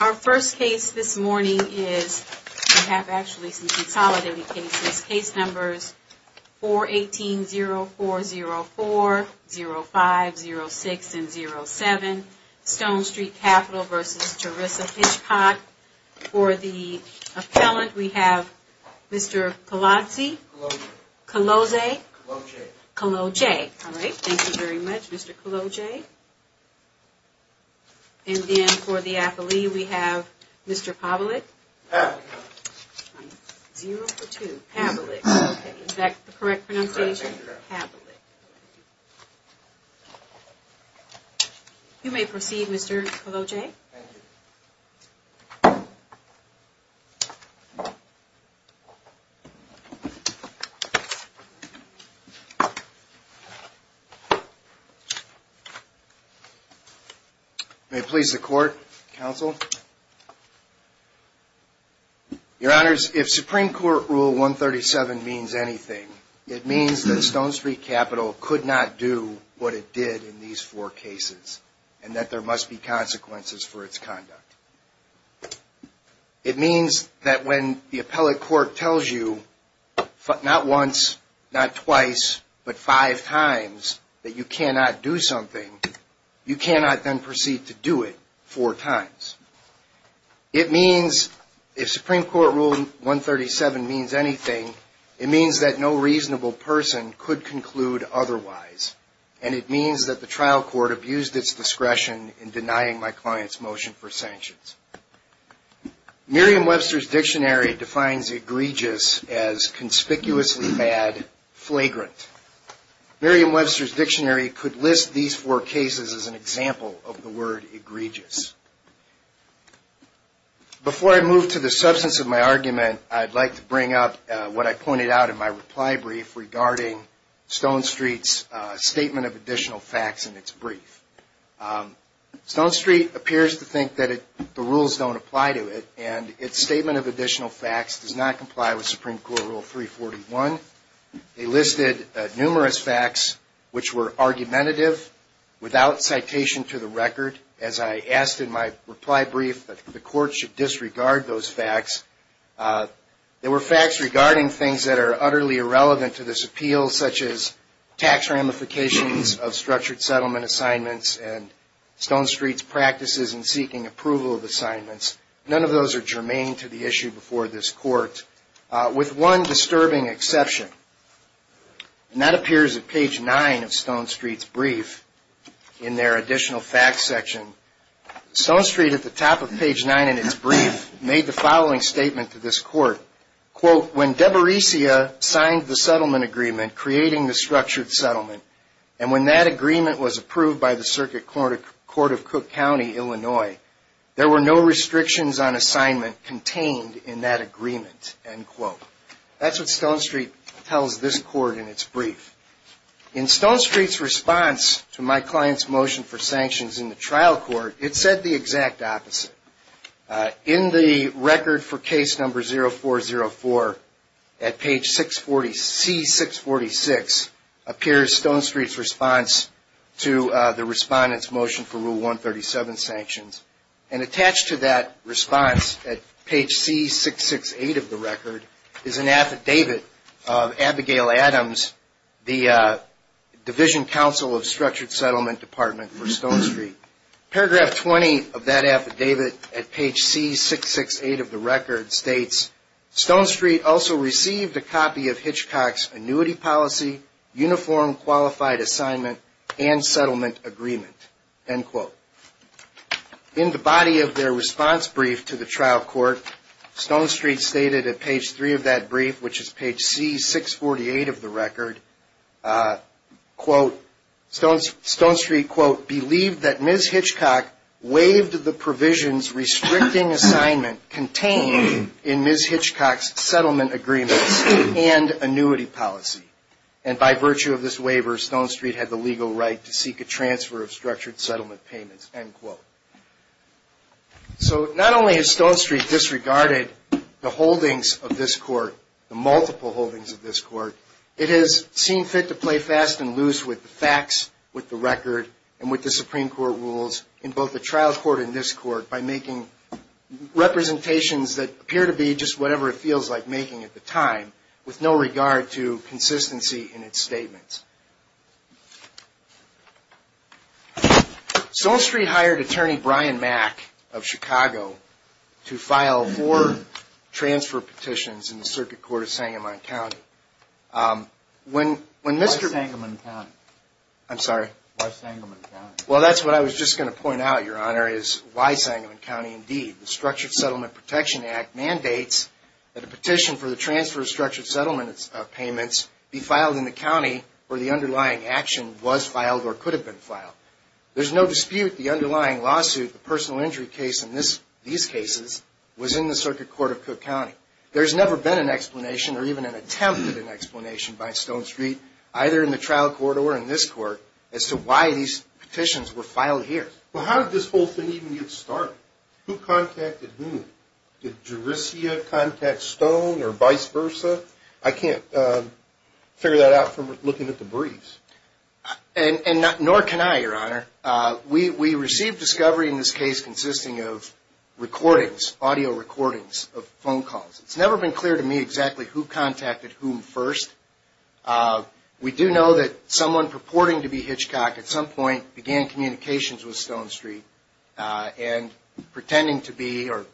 Our first case this morning is, we have actually some consolidating cases. Case numbers 418-0404, 05-06 and 07, Stone Street Capital v. Teresa Hitchcock. For the appellant, we have Mr. Kolodze, Kolodze, Kolodze. Alright, thank you very much, Mr. Kolodze. And then for the appellee, we have Mr. Pavlik, Pavlik. 0 for 2, Pavlik. Is that the correct pronunciation? Pavlik. You may proceed, Mr. Kolodze. Thank you. May it please the Court, Counsel. Your Honors, if Supreme Court Rule 137 means anything, it means that Stone Street Capital could not do what it did in these four cases and that there must be consequences for its conduct. It means that when the appellate court tells you, not once, not twice, but five times that you cannot do something, you cannot then proceed to do it four times. It means, if Supreme Court Rule 137 means anything, it means that no reasonable person could conclude otherwise. And it means that the trial court abused its discretion in denying my client's motion for sanctions. Merriam-Webster's Dictionary defines egregious as conspicuously bad, flagrant. Merriam-Webster's Dictionary could list these four cases as an example of the word egregious. Before I move to the substance of my argument, I'd like to bring up what I pointed out in my reply brief regarding Stone Street's statement of additional facts in its brief. Stone Street appears to think that the rules don't apply to it, and its statement of additional facts does not comply with Supreme Court Rule 341. They listed numerous facts which were argumentative, without citation to the record. As I asked in my reply brief, the court should disregard those facts. There were facts regarding things that are utterly irrelevant to this appeal, such as tax ramifications of structured settlement assignments and Stone Street's practices in seeking approval of assignments. None of those are germane to the issue before this court, with one disturbing exception. And that appears at page 9 of Stone Street's brief, in their additional facts section. Stone Street, at the top of page 9 in its brief, made the following statement to this court. That's what Stone Street tells this court in its brief. In Stone Street's response to my client's motion for sanctions in the trial court, it said the exact opposite. In the record for case number 0404, at page C646, appears Stone Street's response to the respondent's motion for Rule 137 sanctions. And attached to that response, at page C668 of the record, is an affidavit of Abigail Adams, the Division Counsel of Structured Settlement Department for Stone Street. Paragraph 20 of that affidavit, at page C668 of the record, states, Stone Street also received a copy of Hitchcock's annuity policy, uniform qualified assignment, and settlement agreement. In the body of their response brief to the trial court, Stone Street stated at page 3 of that brief, which is page C648 of the record, quote, Stone Street, quote, believed that Ms. Hitchcock waived the provisions restricting assignment contained in Ms. Hitchcock's settlement agreements and annuity policy. And by virtue of this waiver, Stone Street had the legal right to seek a transfer of structured settlement payments, end quote. So not only has Stone Street disregarded the holdings of this court, the multiple holdings of this court, it has seen fit to play fast and loose with the facts, with the record, and with the Supreme Court rules in both the trial court and this court by making representations that appear to be just whatever it feels like making at the time, with no regard to consistency in its statements. Stone Street hired attorney Brian Mack of Chicago to file four transfer petitions in the circuit court of Sangamon County. Why Sangamon County? I'm sorry? Why Sangamon County? Well, that's what I was just going to point out, Your Honor, is why Sangamon County indeed. The Structured Settlement Protection Act mandates that a petition for the transfer of structured settlement payments be filed in the county where the underlying action was filed or could have been filed. There's no dispute the underlying lawsuit, the personal injury case in these cases, was in the circuit court of Cook County. There's never been an explanation or even an attempt at an explanation by Stone Street, either in the trial court or in this court, as to why these petitions were filed here. Well, how did this whole thing even get started? Who contacted whom? Did Jurisia contact Stone or vice versa? I can't figure that out from looking at the briefs. And nor can I, Your Honor. We received discovery in this case consisting of recordings, audio recordings of phone calls. It's never been clear to me exactly who contacted whom first. We do know that someone purporting to be Hitchcock at some point began communications with Stone Street and pretending to be or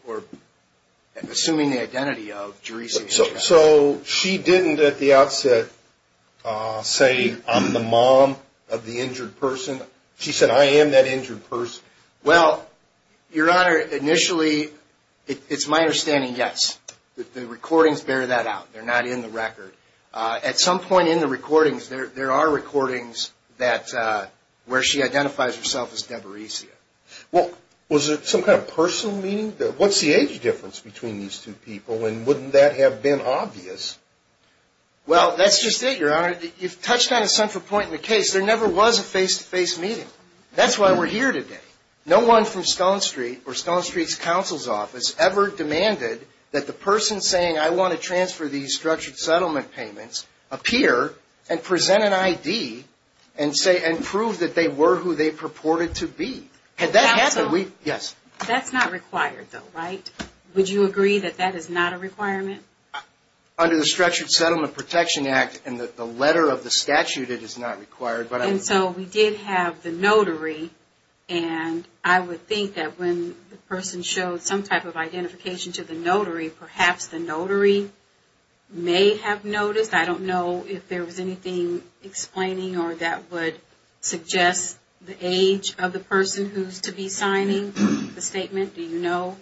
assuming the identity of Jurisia Hitchcock. So she didn't at the outset say, I'm the mom of the injured person. She said, I am that injured person. Well, Your Honor, initially, it's my understanding, yes. The recordings bear that out. They're not in the record. At some point in the recordings, there are recordings where she identifies herself as Deborah Hitchcock. Well, was it some kind of personal meeting? What's the age difference between these two people, and wouldn't that have been obvious? Well, that's just it, Your Honor. You've touched on a central point in the case. There never was a face-to-face meeting. That's why we're here today. No one from Stone Street or Stone Street's counsel's office ever demanded that the person saying, I want to transfer these structured settlement payments appear and present an ID and prove that they were who they purported to be. Counsel? Yes. That's not required, though, right? Would you agree that that is not a requirement? Under the Structured Settlement Protection Act and the letter of the statute, it is not required. And so we did have the notary, and I would think that when the person showed some type of identification to the notary, perhaps the notary may have noticed. I don't know if there was anything explaining or that would suggest the age of the person who's to be signing the statement. Do you know?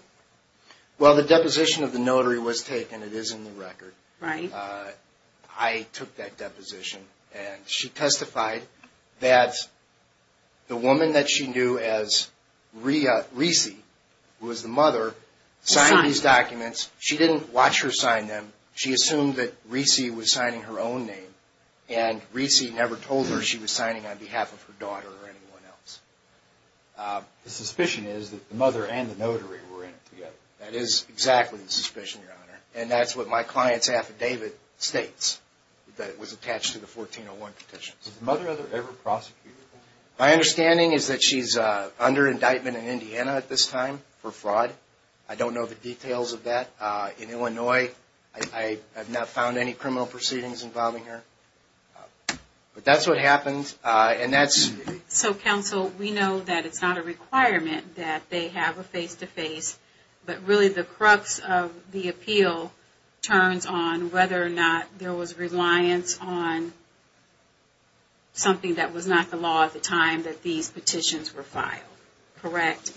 Well, the deposition of the notary was taken. It is in the record. Right. I took that deposition, and she testified that the woman that she knew as Recy, who was the mother, signed these documents. She didn't watch her sign them. She assumed that Recy was signing her own name, and Recy never told her she was signing on behalf of her daughter or anyone else. The suspicion is that the mother and the notary were in it together. That is exactly the suspicion, Your Honor. And that's what my client's affidavit states, that it was attached to the 1401 petitions. Was the mother ever prosecuted? My understanding is that she's under indictment in Indiana at this time for fraud. I don't know the details of that. In Illinois, I have not found any criminal proceedings involving her. But that's what happened, and that's... So, counsel, we know that it's not a requirement that they have a face-to-face, but really the crux of the appeal turns on whether or not there was reliance on something that was not the law at the time that these petitions were filed. Correct?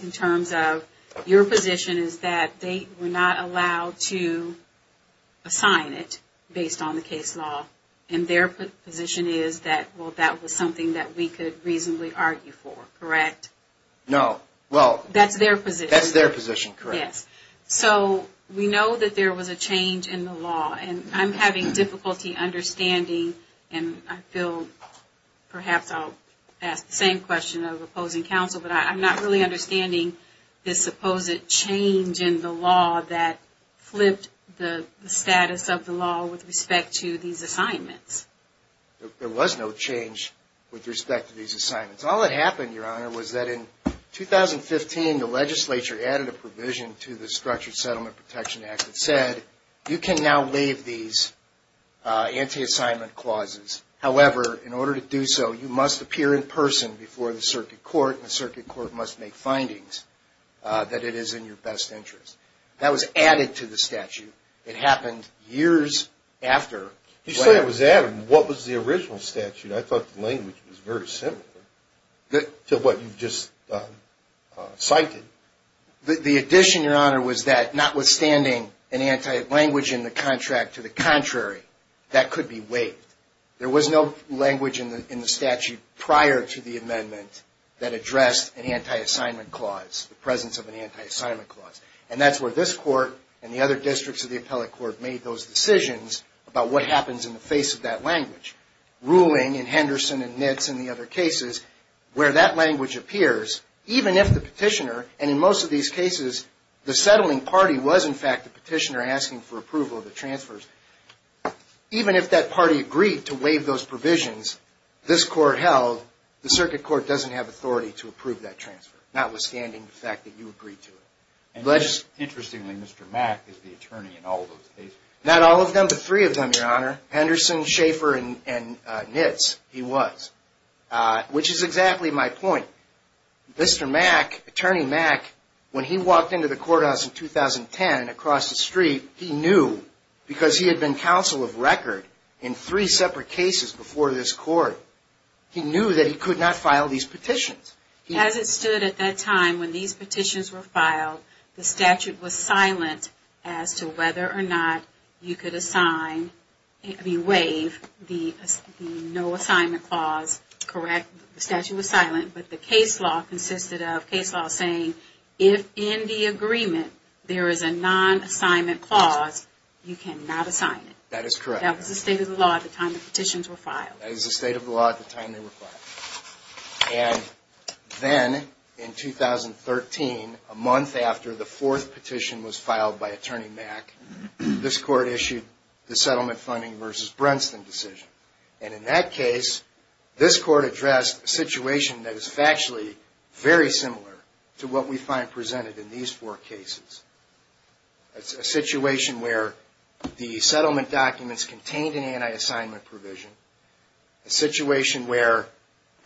Your position is that they were not allowed to assign it based on the case law, and their position is that, well, that was something that we could reasonably argue for, correct? No, well... That's their position. That's their position, correct. Yes. So, we know that there was a change in the law, and I'm having difficulty understanding, and I feel perhaps I'll ask the same question of opposing counsel, but I'm not really understanding this supposed change in the law that flipped the status of the law with respect to these assignments. There was no change with respect to these assignments. All that happened, Your Honor, was that in 2015, the legislature added a provision to the Structured Settlement Protection Act that said you can now leave these anti-assignment clauses. However, in order to do so, you must appear in person before the circuit court, and the circuit court must make findings that it is in your best interest. That was added to the statute. It happened years after. You say it was added. What was the original statute? I thought the language was very similar to what you just cited. The addition, Your Honor, was that notwithstanding an anti-language in the contract to the contrary, that could be waived. There was no language in the statute prior to the amendment that addressed an anti-assignment clause, the presence of an anti-assignment clause, and that's where this court and the other districts of the appellate court made those decisions about what happens in the face of that language. Ruling in Henderson and Nitz and the other cases, where that language appears, even if the petitioner, and in most of these cases, the settling party was, in fact, the petitioner asking for approval of the transfers, even if that party agreed to waive those provisions this court held, the circuit court doesn't have authority to approve that transfer, notwithstanding the fact that you agreed to it. Interestingly, Mr. Mack is the attorney in all those cases. Not all of them, but three of them, Your Honor. Henderson, Schaefer, and Nitz, he was. Which is exactly my point. Mr. Mack, Attorney Mack, when he walked into the courthouse in 2010 across the street, he knew, because he had been counsel of record in three separate cases before this court, he knew that he could not file these petitions. As it stood at that time, when these petitions were filed, the statute was silent as to whether or not you could waive the no-assignment clause. Correct? The statute was silent, but the case law consisted of case law saying, if in the agreement there is a non-assignment clause, you cannot assign it. That is correct. That was the state of the law at the time the petitions were filed. And then, in 2013, a month after the fourth petition was filed by Attorney Mack, this court issued the settlement funding versus Brenston decision. And in that case, this court addressed a situation that is factually very similar to what we find presented in these four cases. It's a situation where the settlement documents contained an anti-assignment provision, a situation where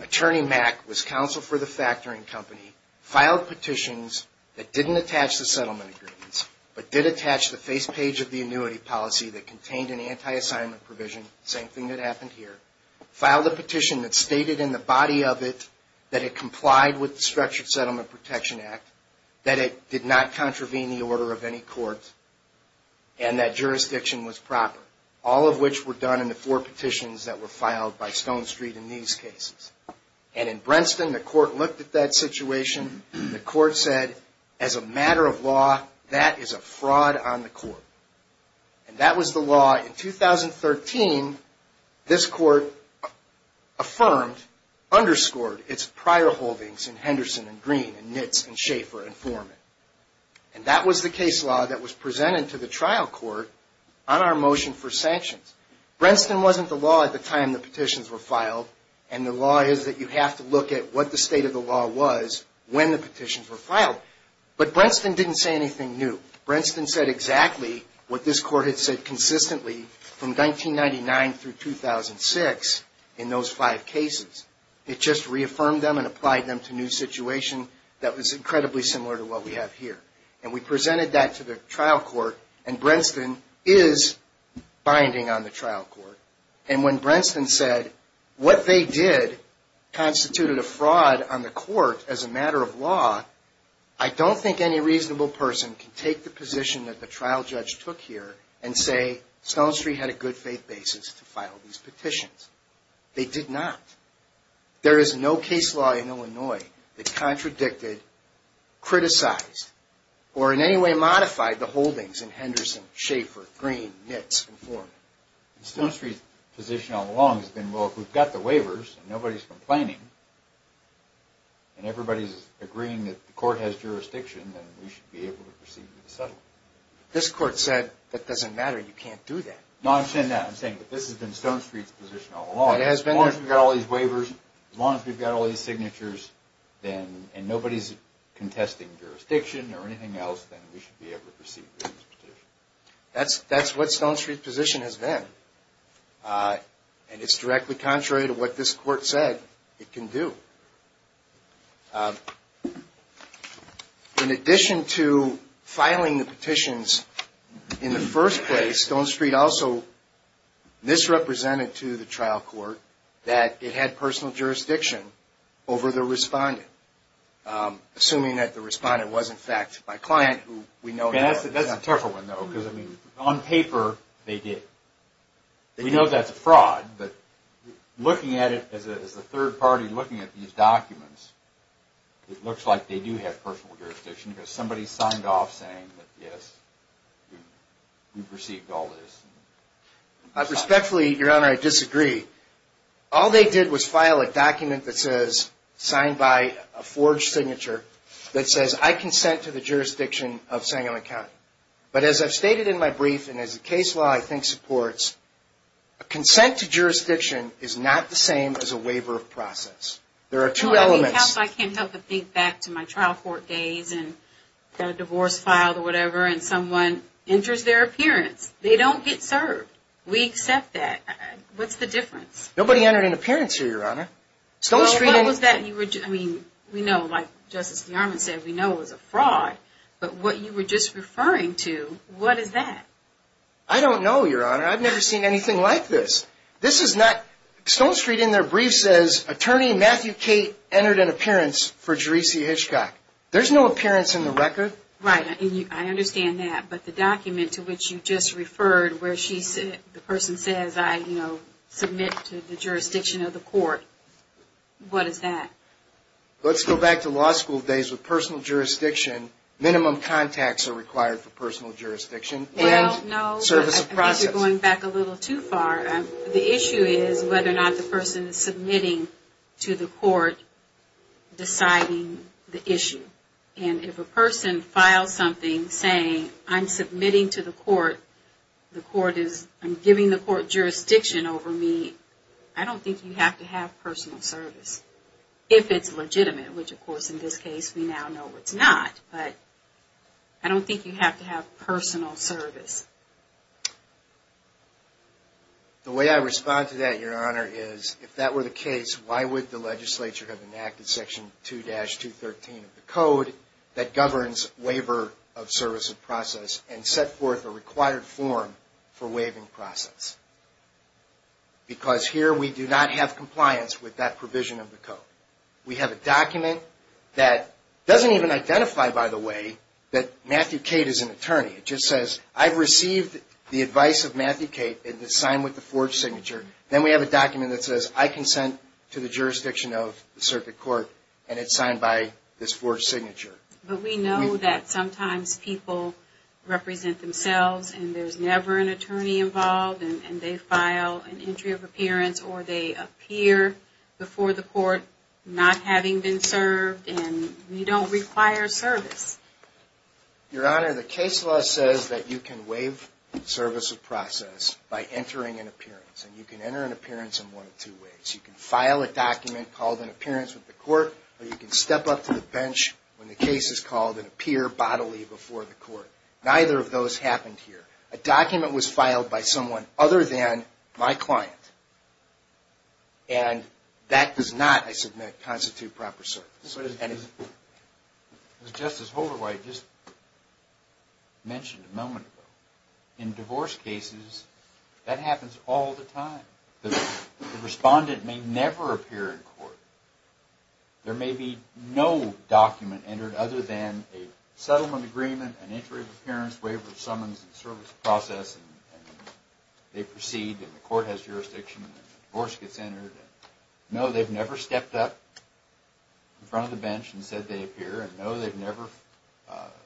Attorney Mack was counsel for the factoring company, filed petitions that didn't attach the settlement agreements, but did attach the face page of the annuity policy that contained an anti-assignment provision, same thing that happened here, filed a petition that stated in the body of it that it complied with the Structured Settlement Protection Act, that it did not contravene the order of any court, and that jurisdiction was proper, all of which were done in the four petitions that were filed by Stone Street in these cases. And in Brenston, the court looked at that situation. The court said, as a matter of law, that is a fraud on the court. And that was the law. In 2013, this court affirmed, underscored its prior holdings in Henderson and Green and Nitz and Schaefer and Foreman. And that was the case law that was presented to the trial court on our motion for sanctions. Brenston wasn't the law at the time the petitions were filed, and the law is that you have to look at what the state of the law was when the petitions were filed. But Brenston didn't say anything new. Brenston said exactly what this court had said consistently from 1999 through 2006 in those five cases. It just reaffirmed them and applied them to a new situation that was incredibly similar to what we have here. And we presented that to the trial court, and Brenston is binding on the trial court. And when Brenston said what they did constituted a fraud on the court as a matter of law, I don't think any reasonable person can take the position that the trial judge took here and say Stone Street had a good faith basis to file these petitions. They did not. There is no case law in Illinois that contradicted, criticized, or in any way modified the holdings in Henderson, Schaefer, Green, Nitz, and Foreman. Stone Street's position all along has been, well, if we've got the waivers and nobody's complaining, and everybody's agreeing that the court has jurisdiction, then we should be able to proceed with the settlement. This court said, that doesn't matter, you can't do that. No, I understand that. I'm saying that this has been Stone Street's position all along. It has been. As long as we've got all these waivers, as long as we've got all these signatures, and nobody's contesting jurisdiction or anything else, then we should be able to proceed with this petition. That's what Stone Street's position has been. And it's directly contrary to what this court said it can do. In addition to filing the petitions in the first place, Stone Street also misrepresented to the trial court that it had personal jurisdiction over the respondent, assuming that the respondent was, in fact, my client, who we know now. That's a tough one, though, because, I mean, on paper, they did. We know that's a fraud, but looking at it as a third party, looking at these documents, it looks like they do have personal jurisdiction, because somebody signed off saying that, yes, we've received all this. Respectfully, Your Honor, I disagree. All they did was file a document that says, signed by a forged signature, that says, I consent to the jurisdiction of Sangamon County. But as I've stated in my brief, and as the case law, I think, supports, a consent to jurisdiction is not the same as a waiver of process. There are two elements. I can't help but think back to my trial court days, and got a divorce filed or whatever, and someone enters their appearance. They don't get served. We accept that. What's the difference? Nobody entered an appearance here, Your Honor. Well, what was that you were doing? We know, like Justice DeArmond said, we know it was a fraud. But what you were just referring to, what is that? I don't know, Your Honor. I've never seen anything like this. This is not Stone Street in their brief says, Attorney Matthew Cate entered an appearance for Jeresey Hitchcock. There's no appearance in the record. Right. I understand that. But the document to which you just referred, where the person says, I submit to the jurisdiction of the court, what is that? Let's go back to law school days with personal jurisdiction. Minimum contacts are required for personal jurisdiction. Well, no. Service of process. I think you're going back a little too far. The issue is whether or not the person is submitting to the court deciding the issue. And if a person files something saying, I'm submitting to the court, the court is giving the court jurisdiction over me, I don't think you have to have personal service. If it's legitimate, which, of course, in this case, we now know it's not. But I don't think you have to have personal service. The way I respond to that, Your Honor, is if that were the case, why would the legislature have enacted Section 2-213 of the code that governs the waiver of service of process and set forth a required form for waiving process? Because here we do not have compliance with that provision of the code. We have a document that doesn't even identify, by the way, that Matthew Cate is an attorney. It just says, I've received the advice of Matthew Cate, and it's signed with the forged signature. Then we have a document that says, I consent to the jurisdiction of the circuit court, and it's signed by this forged signature. But we know that sometimes people represent themselves, and there's never an attorney involved, and they file an entry of appearance, or they appear before the court not having been served, and we don't require service. Your Honor, the case law says that you can waive service of process by entering an appearance, and you can enter an appearance in one of two ways. You can file a document called an appearance with the court, or you can step up to the bench when the case is called and appear bodily before the court. Neither of those happened here. A document was filed by someone other than my client, and that does not, I submit, constitute proper service. As Justice Holderway just mentioned a moment ago, in divorce cases, that happens all the time. The respondent may never appear in court. There may be no document entered other than a settlement agreement, an entry of appearance, waiver of summons, and service of process, and they proceed, and the court has jurisdiction, and the divorce gets entered. No, they've never stepped up in front of the bench and said they appear, and no, they've never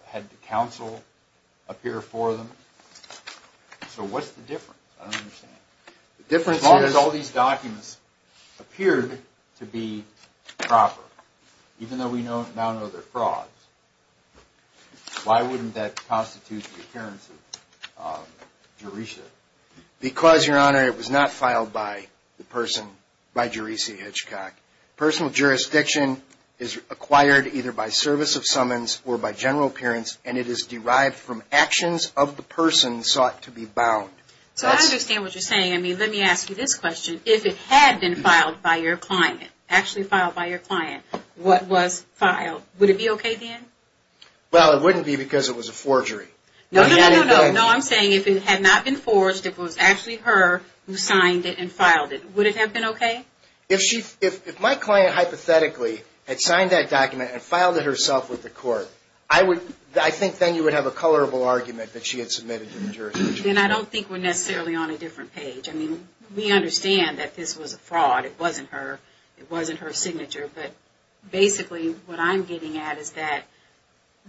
had the counsel appear for them. So what's the difference? I don't understand. As long as all these documents appeared to be proper, even though we now know they're frauds, why wouldn't that constitute the appearance of Jeresia? Because, Your Honor, it was not filed by the person, by Jeresia Hitchcock. Personal jurisdiction is acquired either by service of summons or by general appearance, and it is derived from actions of the person sought to be bound. So I understand what you're saying. I mean, let me ask you this question. If it had been filed by your client, actually filed by your client, what was filed, would it be okay then? Well, it wouldn't be because it was a forgery. No, no, no, no, no. No, I'm saying if it had not been forged, if it was actually her who signed it and filed it, would it have been okay? If my client hypothetically had signed that document and filed it herself with the court, I think then you would have a colorable argument that she had submitted to the jury. Then I don't think we're necessarily on a different page. I mean, we understand that this was a fraud. It wasn't her. It wasn't her signature. But basically what I'm getting at is that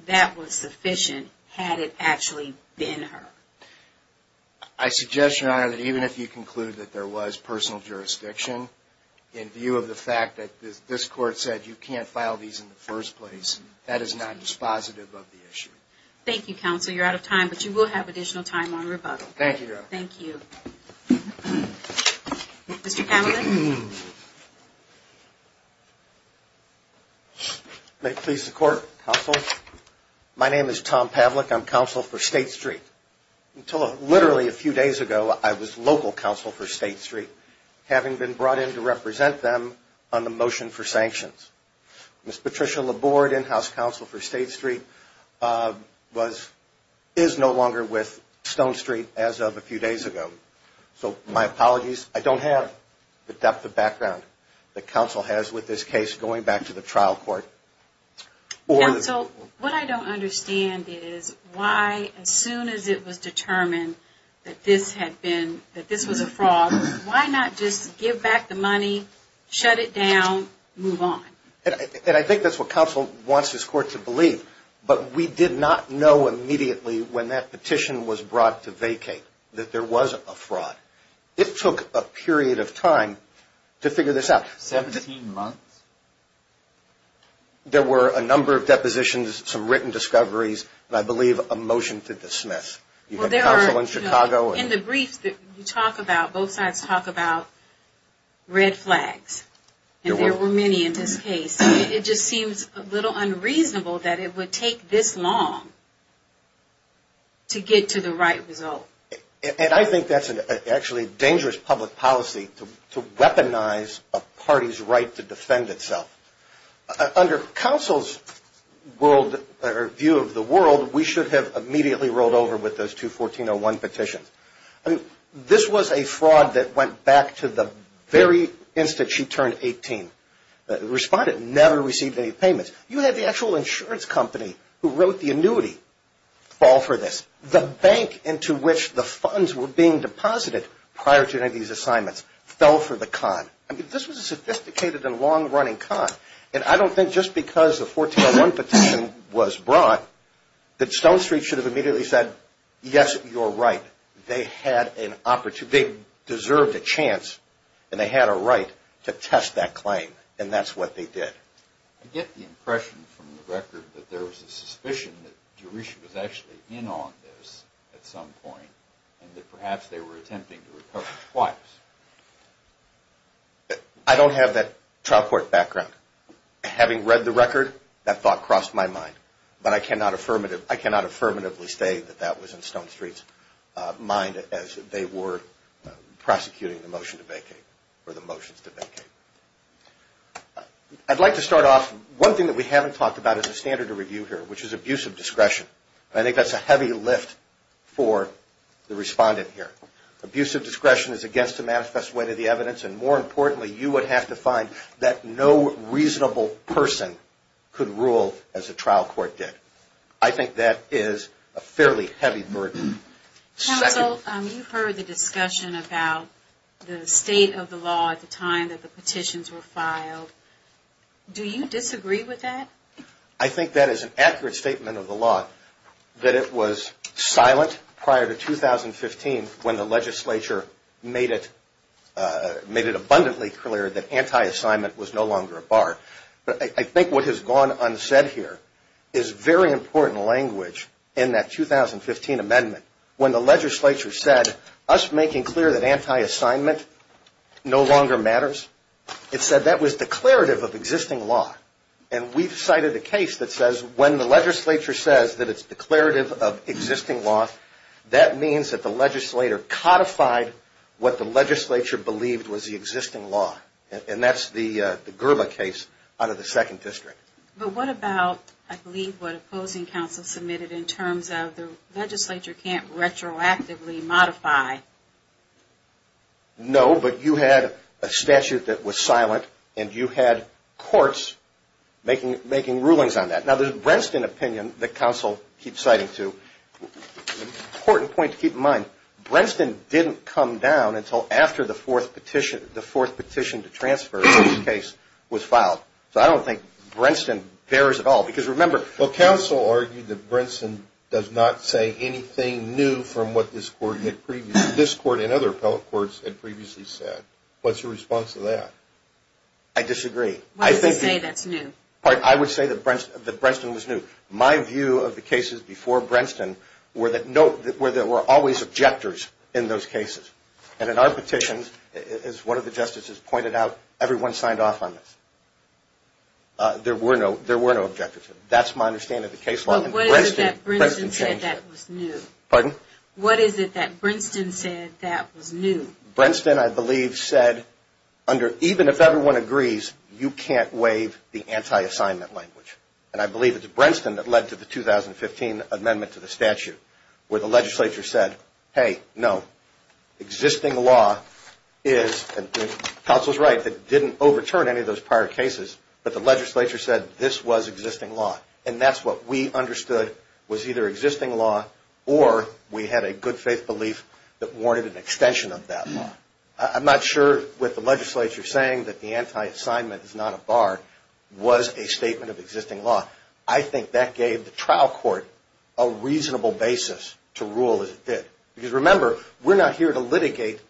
that was sufficient had it actually been her. I suggest, Your Honor, that even if you conclude that there was personal jurisdiction, in view of the fact that this court said you can't file these in the first place, that is not dispositive of the issue. Thank you, Counsel. Counsel, you're out of time, but you will have additional time on rebuttal. Thank you, Your Honor. Thank you. Mr. Pavlik? May it please the Court, Counsel? My name is Tom Pavlik. I'm counsel for State Street. Until literally a few days ago, I was local counsel for State Street, having been brought in to represent them on the motion for sanctions. Ms. Patricia Laborde, in-house counsel for State Street, is no longer with Stone Street as of a few days ago. So my apologies. I don't have the depth of background that counsel has with this case going back to the trial court. Counsel, what I don't understand is why, as soon as it was determined that this was a fraud, why not just give back the money, shut it down, move on? And I think that's what counsel wants his court to believe, but we did not know immediately when that petition was brought to vacate that there was a fraud. It took a period of time to figure this out. Seventeen months? There were a number of depositions, some written discoveries, and I believe a motion to dismiss. You had counsel in Chicago. In the briefs that you talk about, both sides talk about red flags, and there were many in this case. It just seems a little unreasonable that it would take this long to get to the right result. And I think that's actually a dangerous public policy to weaponize a party's right to defend itself. Under counsel's view of the world, we should have immediately rolled over with those two 1401 petitions. I mean, this was a fraud that went back to the very instant she turned 18. Respondent never received any payments. You had the actual insurance company who wrote the annuity fall for this. The bank into which the funds were being deposited prior to any of these assignments fell for the con. I mean, this was a sophisticated and long-running con, and I don't think just because a 1401 petition was brought that Stone Street should have immediately said, yes, you're right. They had an opportunity. They deserved a chance, and they had a right to test that claim, and that's what they did. I get the impression from the record that there was a suspicion that Jerusha was actually in on this at some point and that perhaps they were attempting to recover twice. I don't have that trial court background. Having read the record, that thought crossed my mind, but I cannot affirmatively say that that was in Stone Street's mind as they were prosecuting the motion to vacate or the motions to vacate. I'd like to start off. One thing that we haven't talked about is a standard of review here, which is abuse of discretion. I think that's a heavy lift for the respondent here. Abuse of discretion is against the manifest way to the evidence, and more importantly, you would have to find that no reasonable person could rule as a trial court did. I think that is a fairly heavy burden. Counsel, you've heard the discussion about the state of the law at the time that the petitions were filed. Do you disagree with that? I think that is an accurate statement of the law, that it was silent prior to 2015 when the legislature made it abundantly clear that anti-assignment was no longer a bar. But I think what has gone unsaid here is very important language in that 2015 amendment when the legislature said, us making clear that anti-assignment no longer matters. It said that was declarative of existing law. And we've cited a case that says when the legislature says that it's declarative of existing law, that means that the legislator codified what the legislature believed was the existing law. And that's the Gerla case out of the second district. But what about, I believe, what opposing counsel submitted in terms of the legislature can't retroactively modify? No, but you had a statute that was silent, and you had courts making rulings on that. Now, there's a Brentston opinion that counsel keeps citing, too. An important point to keep in mind, Brentston didn't come down until after the fourth petition to transfer in this case was filed. So I don't think Brentston bears at all. Well, counsel argued that Brentston does not say anything new from what this court and other appellate courts had previously said. What's your response to that? I disagree. Why does it say that's new? I would say that Brentston was new. My view of the cases before Brentston were that there were always objectors in those cases. And in our petitions, as one of the justices pointed out, everyone signed off on this. There were no objectors. That's my understanding of the case law. What is it that Brentston said that was new? Pardon? What is it that Brentston said that was new? Brentston, I believe, said, even if everyone agrees, you can't waive the anti-assignment language. And I believe it's Brentston that led to the 2015 amendment to the statute where the legislature said, hey, no, existing law is, and counsel's right, it didn't overturn any of those prior cases, but the legislature said this was existing law. And that's what we understood was either existing law or we had a good faith belief that warranted an extension of that law. I'm not sure with the legislature saying that the anti-assignment is not a bar, was a statement of existing law. I think that gave the trial court a reasonable basis to rule as it did. Because, remember, we're not here to litigate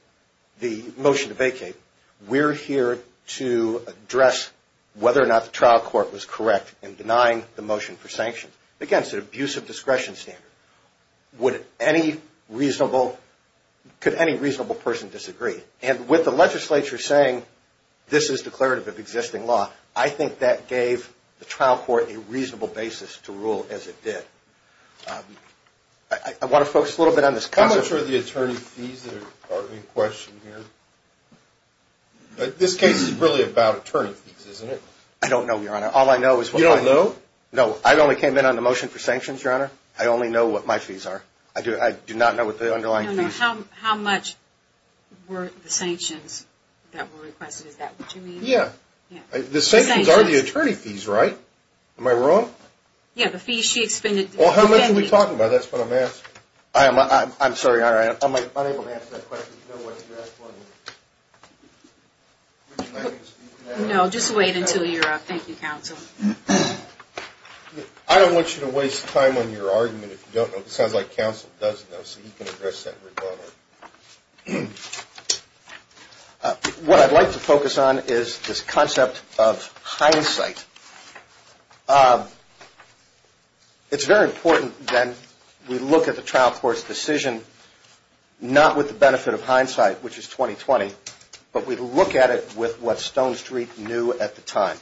the motion to vacate. We're here to address whether or not the trial court was correct in denying the motion for sanction. Again, it's an abusive discretion standard. Could any reasonable person disagree? And with the legislature saying this is declarative of existing law, I think that gave the trial court a reasonable basis to rule as it did. I want to focus a little bit on this. How much are the attorney fees that are in question here? This case is really about attorney fees, isn't it? I don't know, Your Honor. You don't know? No, I only came in on the motion for sanctions, Your Honor. I only know what my fees are. I do not know what the underlying fees are. How much were the sanctions that were requested? Is that what you mean? Yeah. The sanctions are the attorney fees, right? Am I wrong? Yeah. The fees she expended. Well, how much are we talking about? That's what I'm asking. I'm sorry, Your Honor. I'm unable to answer that question. You know what you're asking. No, just wait until you're up. Thank you, counsel. I don't want you to waste time on your argument if you don't know. It sounds like counsel does know, so he can address that regardless. What I'd like to focus on is this concept of hindsight. It's very important that we look at the trial court's decision not with the benefit of hindsight, which is 20-20, but we look at it with what Stone Street knew at the time.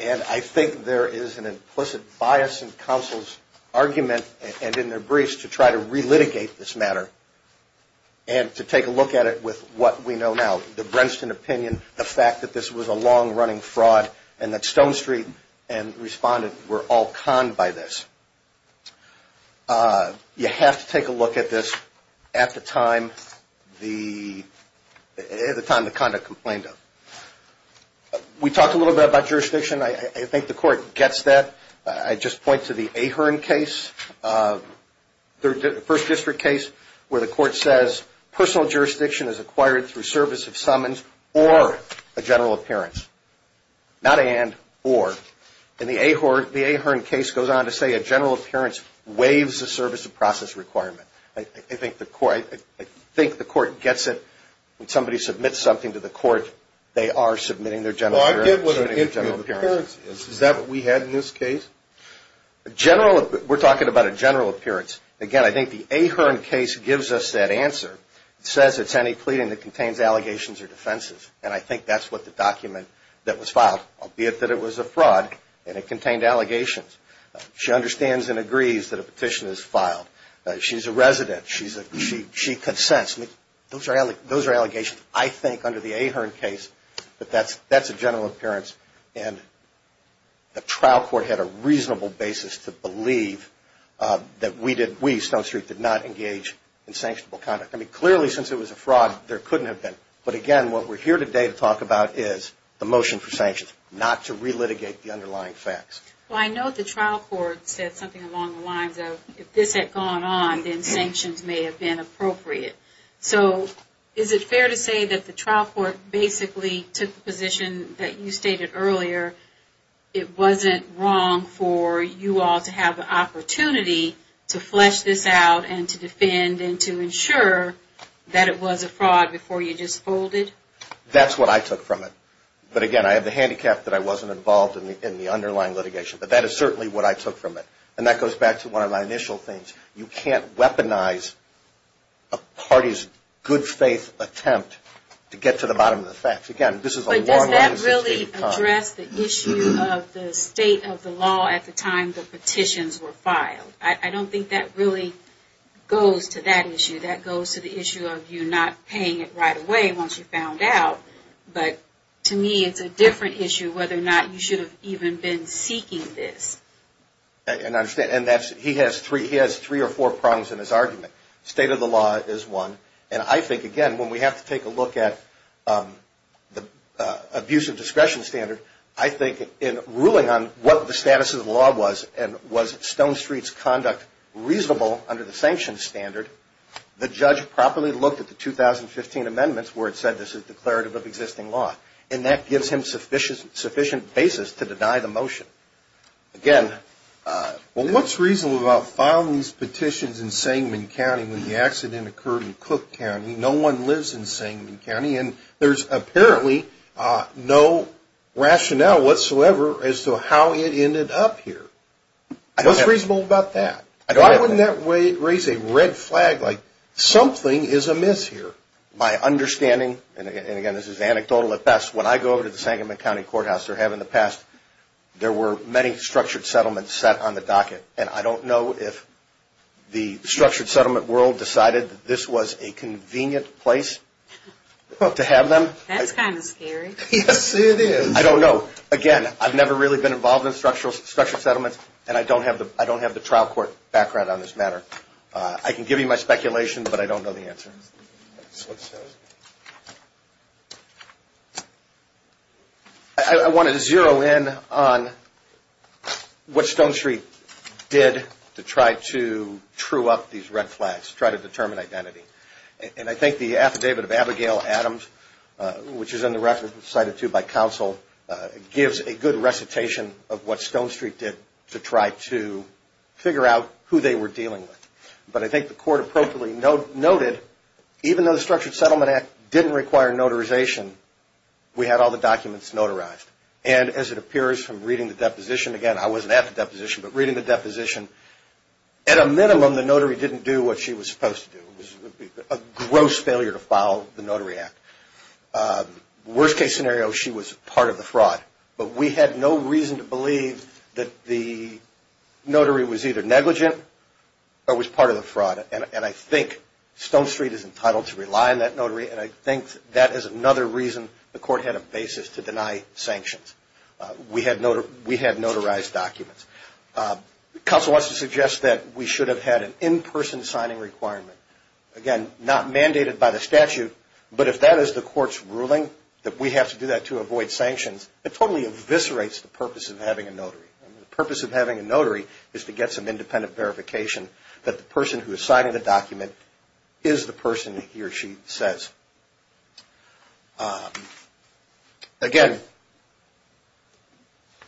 And I think there is an implicit bias in counsel's argument and in their briefs to try to relitigate this matter and to take a look at it with what we know now, the Brenston opinion, the fact that this was a long-running fraud and that Stone Street and respondent were all conned by this. You have to take a look at this at the time the conduct complained of. We talked a little bit about jurisdiction. I think the court gets that. I just point to the Ahearn case, the First District case, where the court says personal jurisdiction is acquired through service of summons or a general appearance. Not and, or. And the Ahearn case goes on to say a general appearance waives a service of process requirement. I think the court gets it. When somebody submits something to the court, they are submitting their general appearance. Well, I get what an interim appearance is. Is that what we had in this case? We're talking about a general appearance. Again, I think the Ahearn case gives us that answer. It says it's any pleading that contains allegations or defenses, and I think that's what the document that was filed, albeit that it was a fraud and it contained allegations. She understands and agrees that a petition is filed. She's a resident. She consents. Those are allegations. I think under the Ahearn case that that's a general appearance, and the trial court had a reasonable basis to believe that we, Stone Street, did not engage in sanctionable conduct. I mean, clearly, since it was a fraud, there couldn't have been. But, again, what we're here today to talk about is the motion for sanctions, not to relitigate the underlying facts. Well, I know the trial court said something along the lines of, if this had gone on, then sanctions may have been appropriate. So is it fair to say that the trial court basically took the position that you stated earlier, it wasn't wrong for you all to have the opportunity to flesh this out and to defend and to ensure that it was a fraud before you just folded? That's what I took from it. But, again, I have the handicap that I wasn't involved in the underlying litigation. But that is certainly what I took from it. And that goes back to one of my initial things. You can't weaponize a party's good-faith attempt to get to the bottom of the facts. Again, this is a long-running system. But does that really address the issue of the state of the law at the time the petitions were filed? I don't think that really goes to that issue. That goes to the issue of you not paying it right away once you found out. But, to me, it's a different issue whether or not you should have even been seeking this. And he has three or four prongs in his argument. State of the law is one. And I think, again, when we have to take a look at the abuse of discretion standard, I think in ruling on what the status of the law was and was Stone Street's conduct reasonable under the sanctions standard, the judge properly looked at the 2015 amendments where it said this is declarative of existing law. And that gives him sufficient basis to deny the motion. Again, what's reasonable about filing these petitions in Sangamon County when the accident occurred in Cook County? No one lives in Sangamon County. And there's apparently no rationale whatsoever as to how it ended up here. What's reasonable about that? Why wouldn't that raise a red flag like something is amiss here? My understanding, and, again, this is anecdotal at best, when I go over to the Sangamon County Courthouse or have in the past, there were many structured settlements set on the docket. And I don't know if the structured settlement world decided this was a convenient place to have them. That's kind of scary. Yes, it is. I don't know. Again, I've never really been involved in structured settlements. And I don't have the trial court background on this matter. I can give you my speculation, but I don't know the answer. I wanted to zero in on what Stone Street did to try to true up these red flags, try to determine identity. And I think the affidavit of Abigail Adams, which is in the record, cited to by counsel, gives a good recitation of what Stone Street did to try to figure out who they were dealing with. But I think the court appropriately noted, even though the Structured Settlement Act didn't require notarization, we had all the documents notarized. And as it appears from reading the deposition, again, I wasn't at the deposition, but reading the deposition, at a minimum, the notary didn't do what she was supposed to do. It was a gross failure to follow the notary act. Worst case scenario, she was part of the fraud. But we had no reason to believe that the notary was either negligent or was part of the fraud. And I think Stone Street is entitled to rely on that notary, and I think that is another reason the court had a basis to deny sanctions. We had notarized documents. Counsel wants to suggest that we should have had an in-person signing requirement. Again, not mandated by the statute, but if that is the court's ruling, that we have to do that to avoid sanctions, it totally eviscerates the purpose of having a notary. The purpose of having a notary is to get some independent verification that the person who has signed the document is the person he or she says. Again,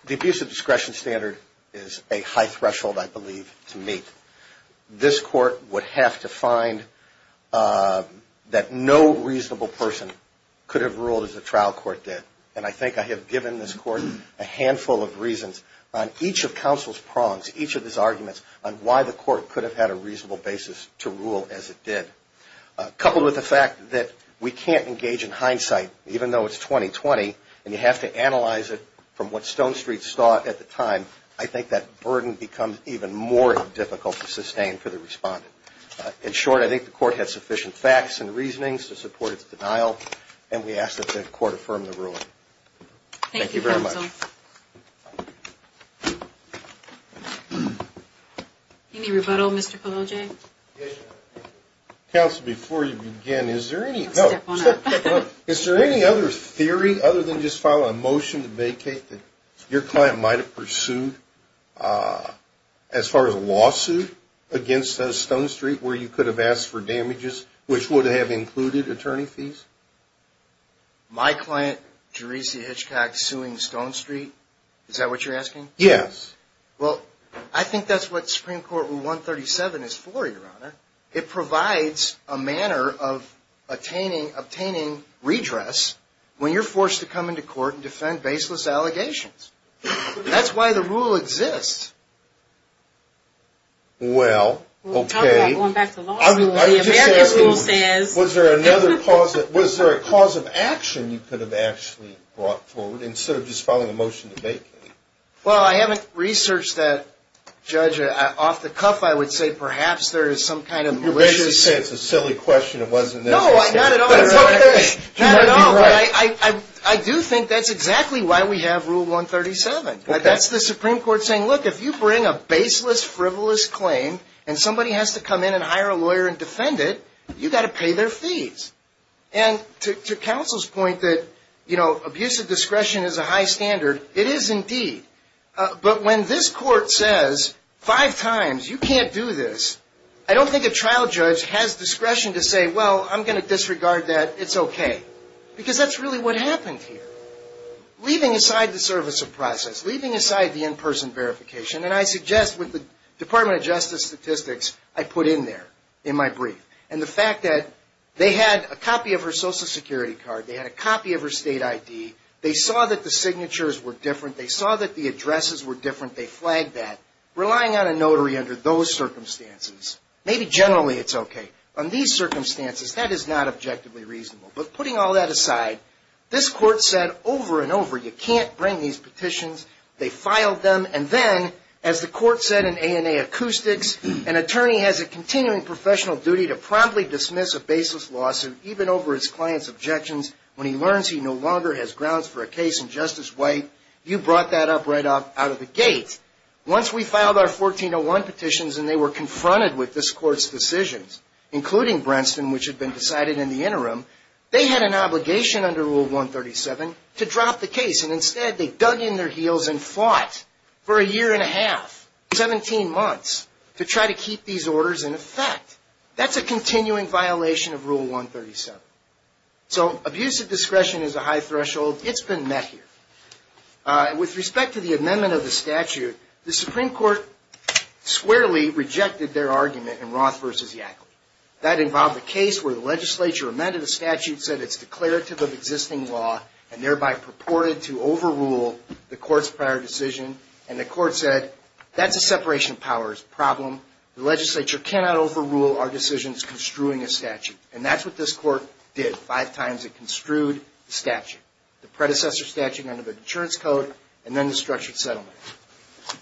the abuse of discretion standard is a high threshold, I believe, to meet. This court would have to find that no reasonable person could have ruled as the trial court did. And I think I have given this court a handful of reasons on each of counsel's prongs, each of his arguments on why the court could have had a reasonable basis to rule as it did. Coupled with the fact that we can't engage in hindsight, even though it's 2020, and you have to analyze it from what Stone Street thought at the time, I think that burden becomes even more difficult to sustain for the respondent. In short, I think the court had sufficient facts and reasonings to support its denial, and we ask that the court affirm the ruling. Thank you very much. Any rebuttal, Mr. Polojay? Counsel, before you begin, is there any other theory other than just following a motion to vacate that your client might have pursued as far as a lawsuit against Stone Street where you could have asked for damages which would have included attorney fees? My client, Jeresey Hitchcock, suing Stone Street, is that what you're asking? Yes. Well, I think that's what Supreme Court Rule 137 is for, Your Honor. It provides a manner of obtaining redress when you're forced to come into court and defend baseless allegations. That's why the rule exists. Well, okay. We'll talk about going back to law school when the American school says. Was there a cause of action you could have actually brought forward instead of just following a motion to vacate? Well, I haven't researched that, Judge. Off the cuff, I would say perhaps there is some kind of malicious. You're basically saying it's a silly question. It wasn't this. No, not at all. You might be right. I do think that's exactly why we have Rule 137. That's the Supreme Court saying, look, if you bring a baseless, frivolous claim, and somebody has to come in and hire a lawyer and defend it, you've got to pay their fees. And to counsel's point that, you know, abuse of discretion is a high standard, it is indeed. But when this court says five times you can't do this, I don't think a trial judge has discretion to say, well, I'm going to disregard that. It's okay. Because that's really what happened here. Leaving aside the service of process, leaving aside the in-person verification, and I suggest with the Department of Justice statistics I put in there in my brief. And the fact that they had a copy of her Social Security card. They had a copy of her state ID. They saw that the signatures were different. They saw that the addresses were different. They flagged that. Relying on a notary under those circumstances. Maybe generally it's okay. On these circumstances, that is not objectively reasonable. But putting all that aside, this court said over and over you can't bring these petitions. They filed them. And then, as the court said in ANA Acoustics, an attorney has a continuing professional duty to promptly dismiss a baseless lawsuit, even over his client's objections when he learns he no longer has grounds for a case in Justice White. You brought that up right out of the gate. Once we filed our 1401 petitions and they were confronted with this court's decisions, including Brentston, which had been decided in the interim, they had an obligation under Rule 137 to drop the case. And instead, they dug in their heels and fought for a year and a half, 17 months, to try to keep these orders in effect. That's a continuing violation of Rule 137. So, abuse of discretion is a high threshold. It's been met here. With respect to the amendment of the statute, the Supreme Court squarely rejected their argument in Roth v. Yackley. That involved a case where the legislature amended a statute, said it's declarative of existing law, and thereby purported to overrule the court's prior decision. And the court said, that's a separation of powers problem. The legislature cannot overrule our decisions construing a statute. And that's what this court did five times. It construed the statute, the predecessor statute under the Deterrence Code, and then the structured settlement.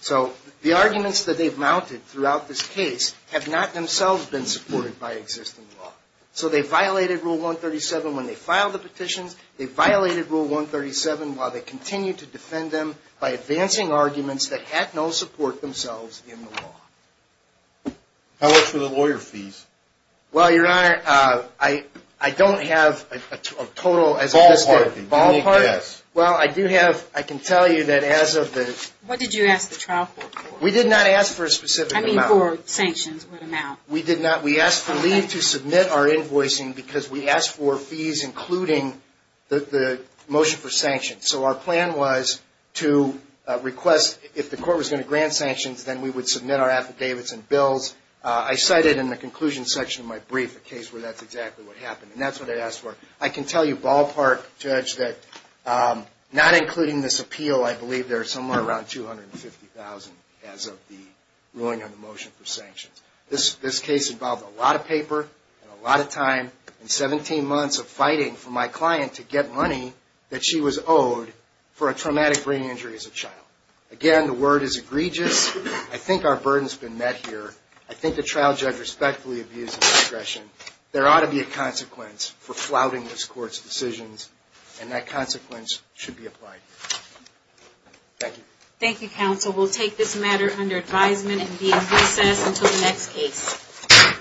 So, the arguments that they've mounted throughout this case have not themselves been supported by existing law. So, they violated Rule 137 when they filed the petitions. They violated Rule 137 while they continued to defend them by advancing arguments that had no support themselves in the law. How much were the lawyer fees? Well, Your Honor, I don't have a total. Ballpark. Ballpark? Yes. Well, I do have, I can tell you that as of the... What did you ask the trial court for? We did not ask for a specific amount. I mean, for sanctions, what amount? We did not. We asked for leave to submit our invoicing because we asked for fees including the motion for sanctions. So, our plan was to request, if the court was going to grant sanctions, then we would submit our affidavits and bills. I cited in the conclusion section of my brief a case where that's exactly what happened. And that's what I asked for. I can tell you, Ballpark, Judge, that not including this appeal, I believe there's somewhere around $250,000 as of the ruling on the motion for sanctions. This case involved a lot of paper and a lot of time and 17 months of fighting for my client to get money that she was owed for a traumatic brain injury as a child. Again, the word is egregious. I think our burden's been met here. I think the trial judge respectfully abused his discretion. There ought to be a consequence for flouting this court's decisions, and that consequence should be applied. Thank you. Thank you, counsel. We'll take this matter under advisement and be in recess until the next case.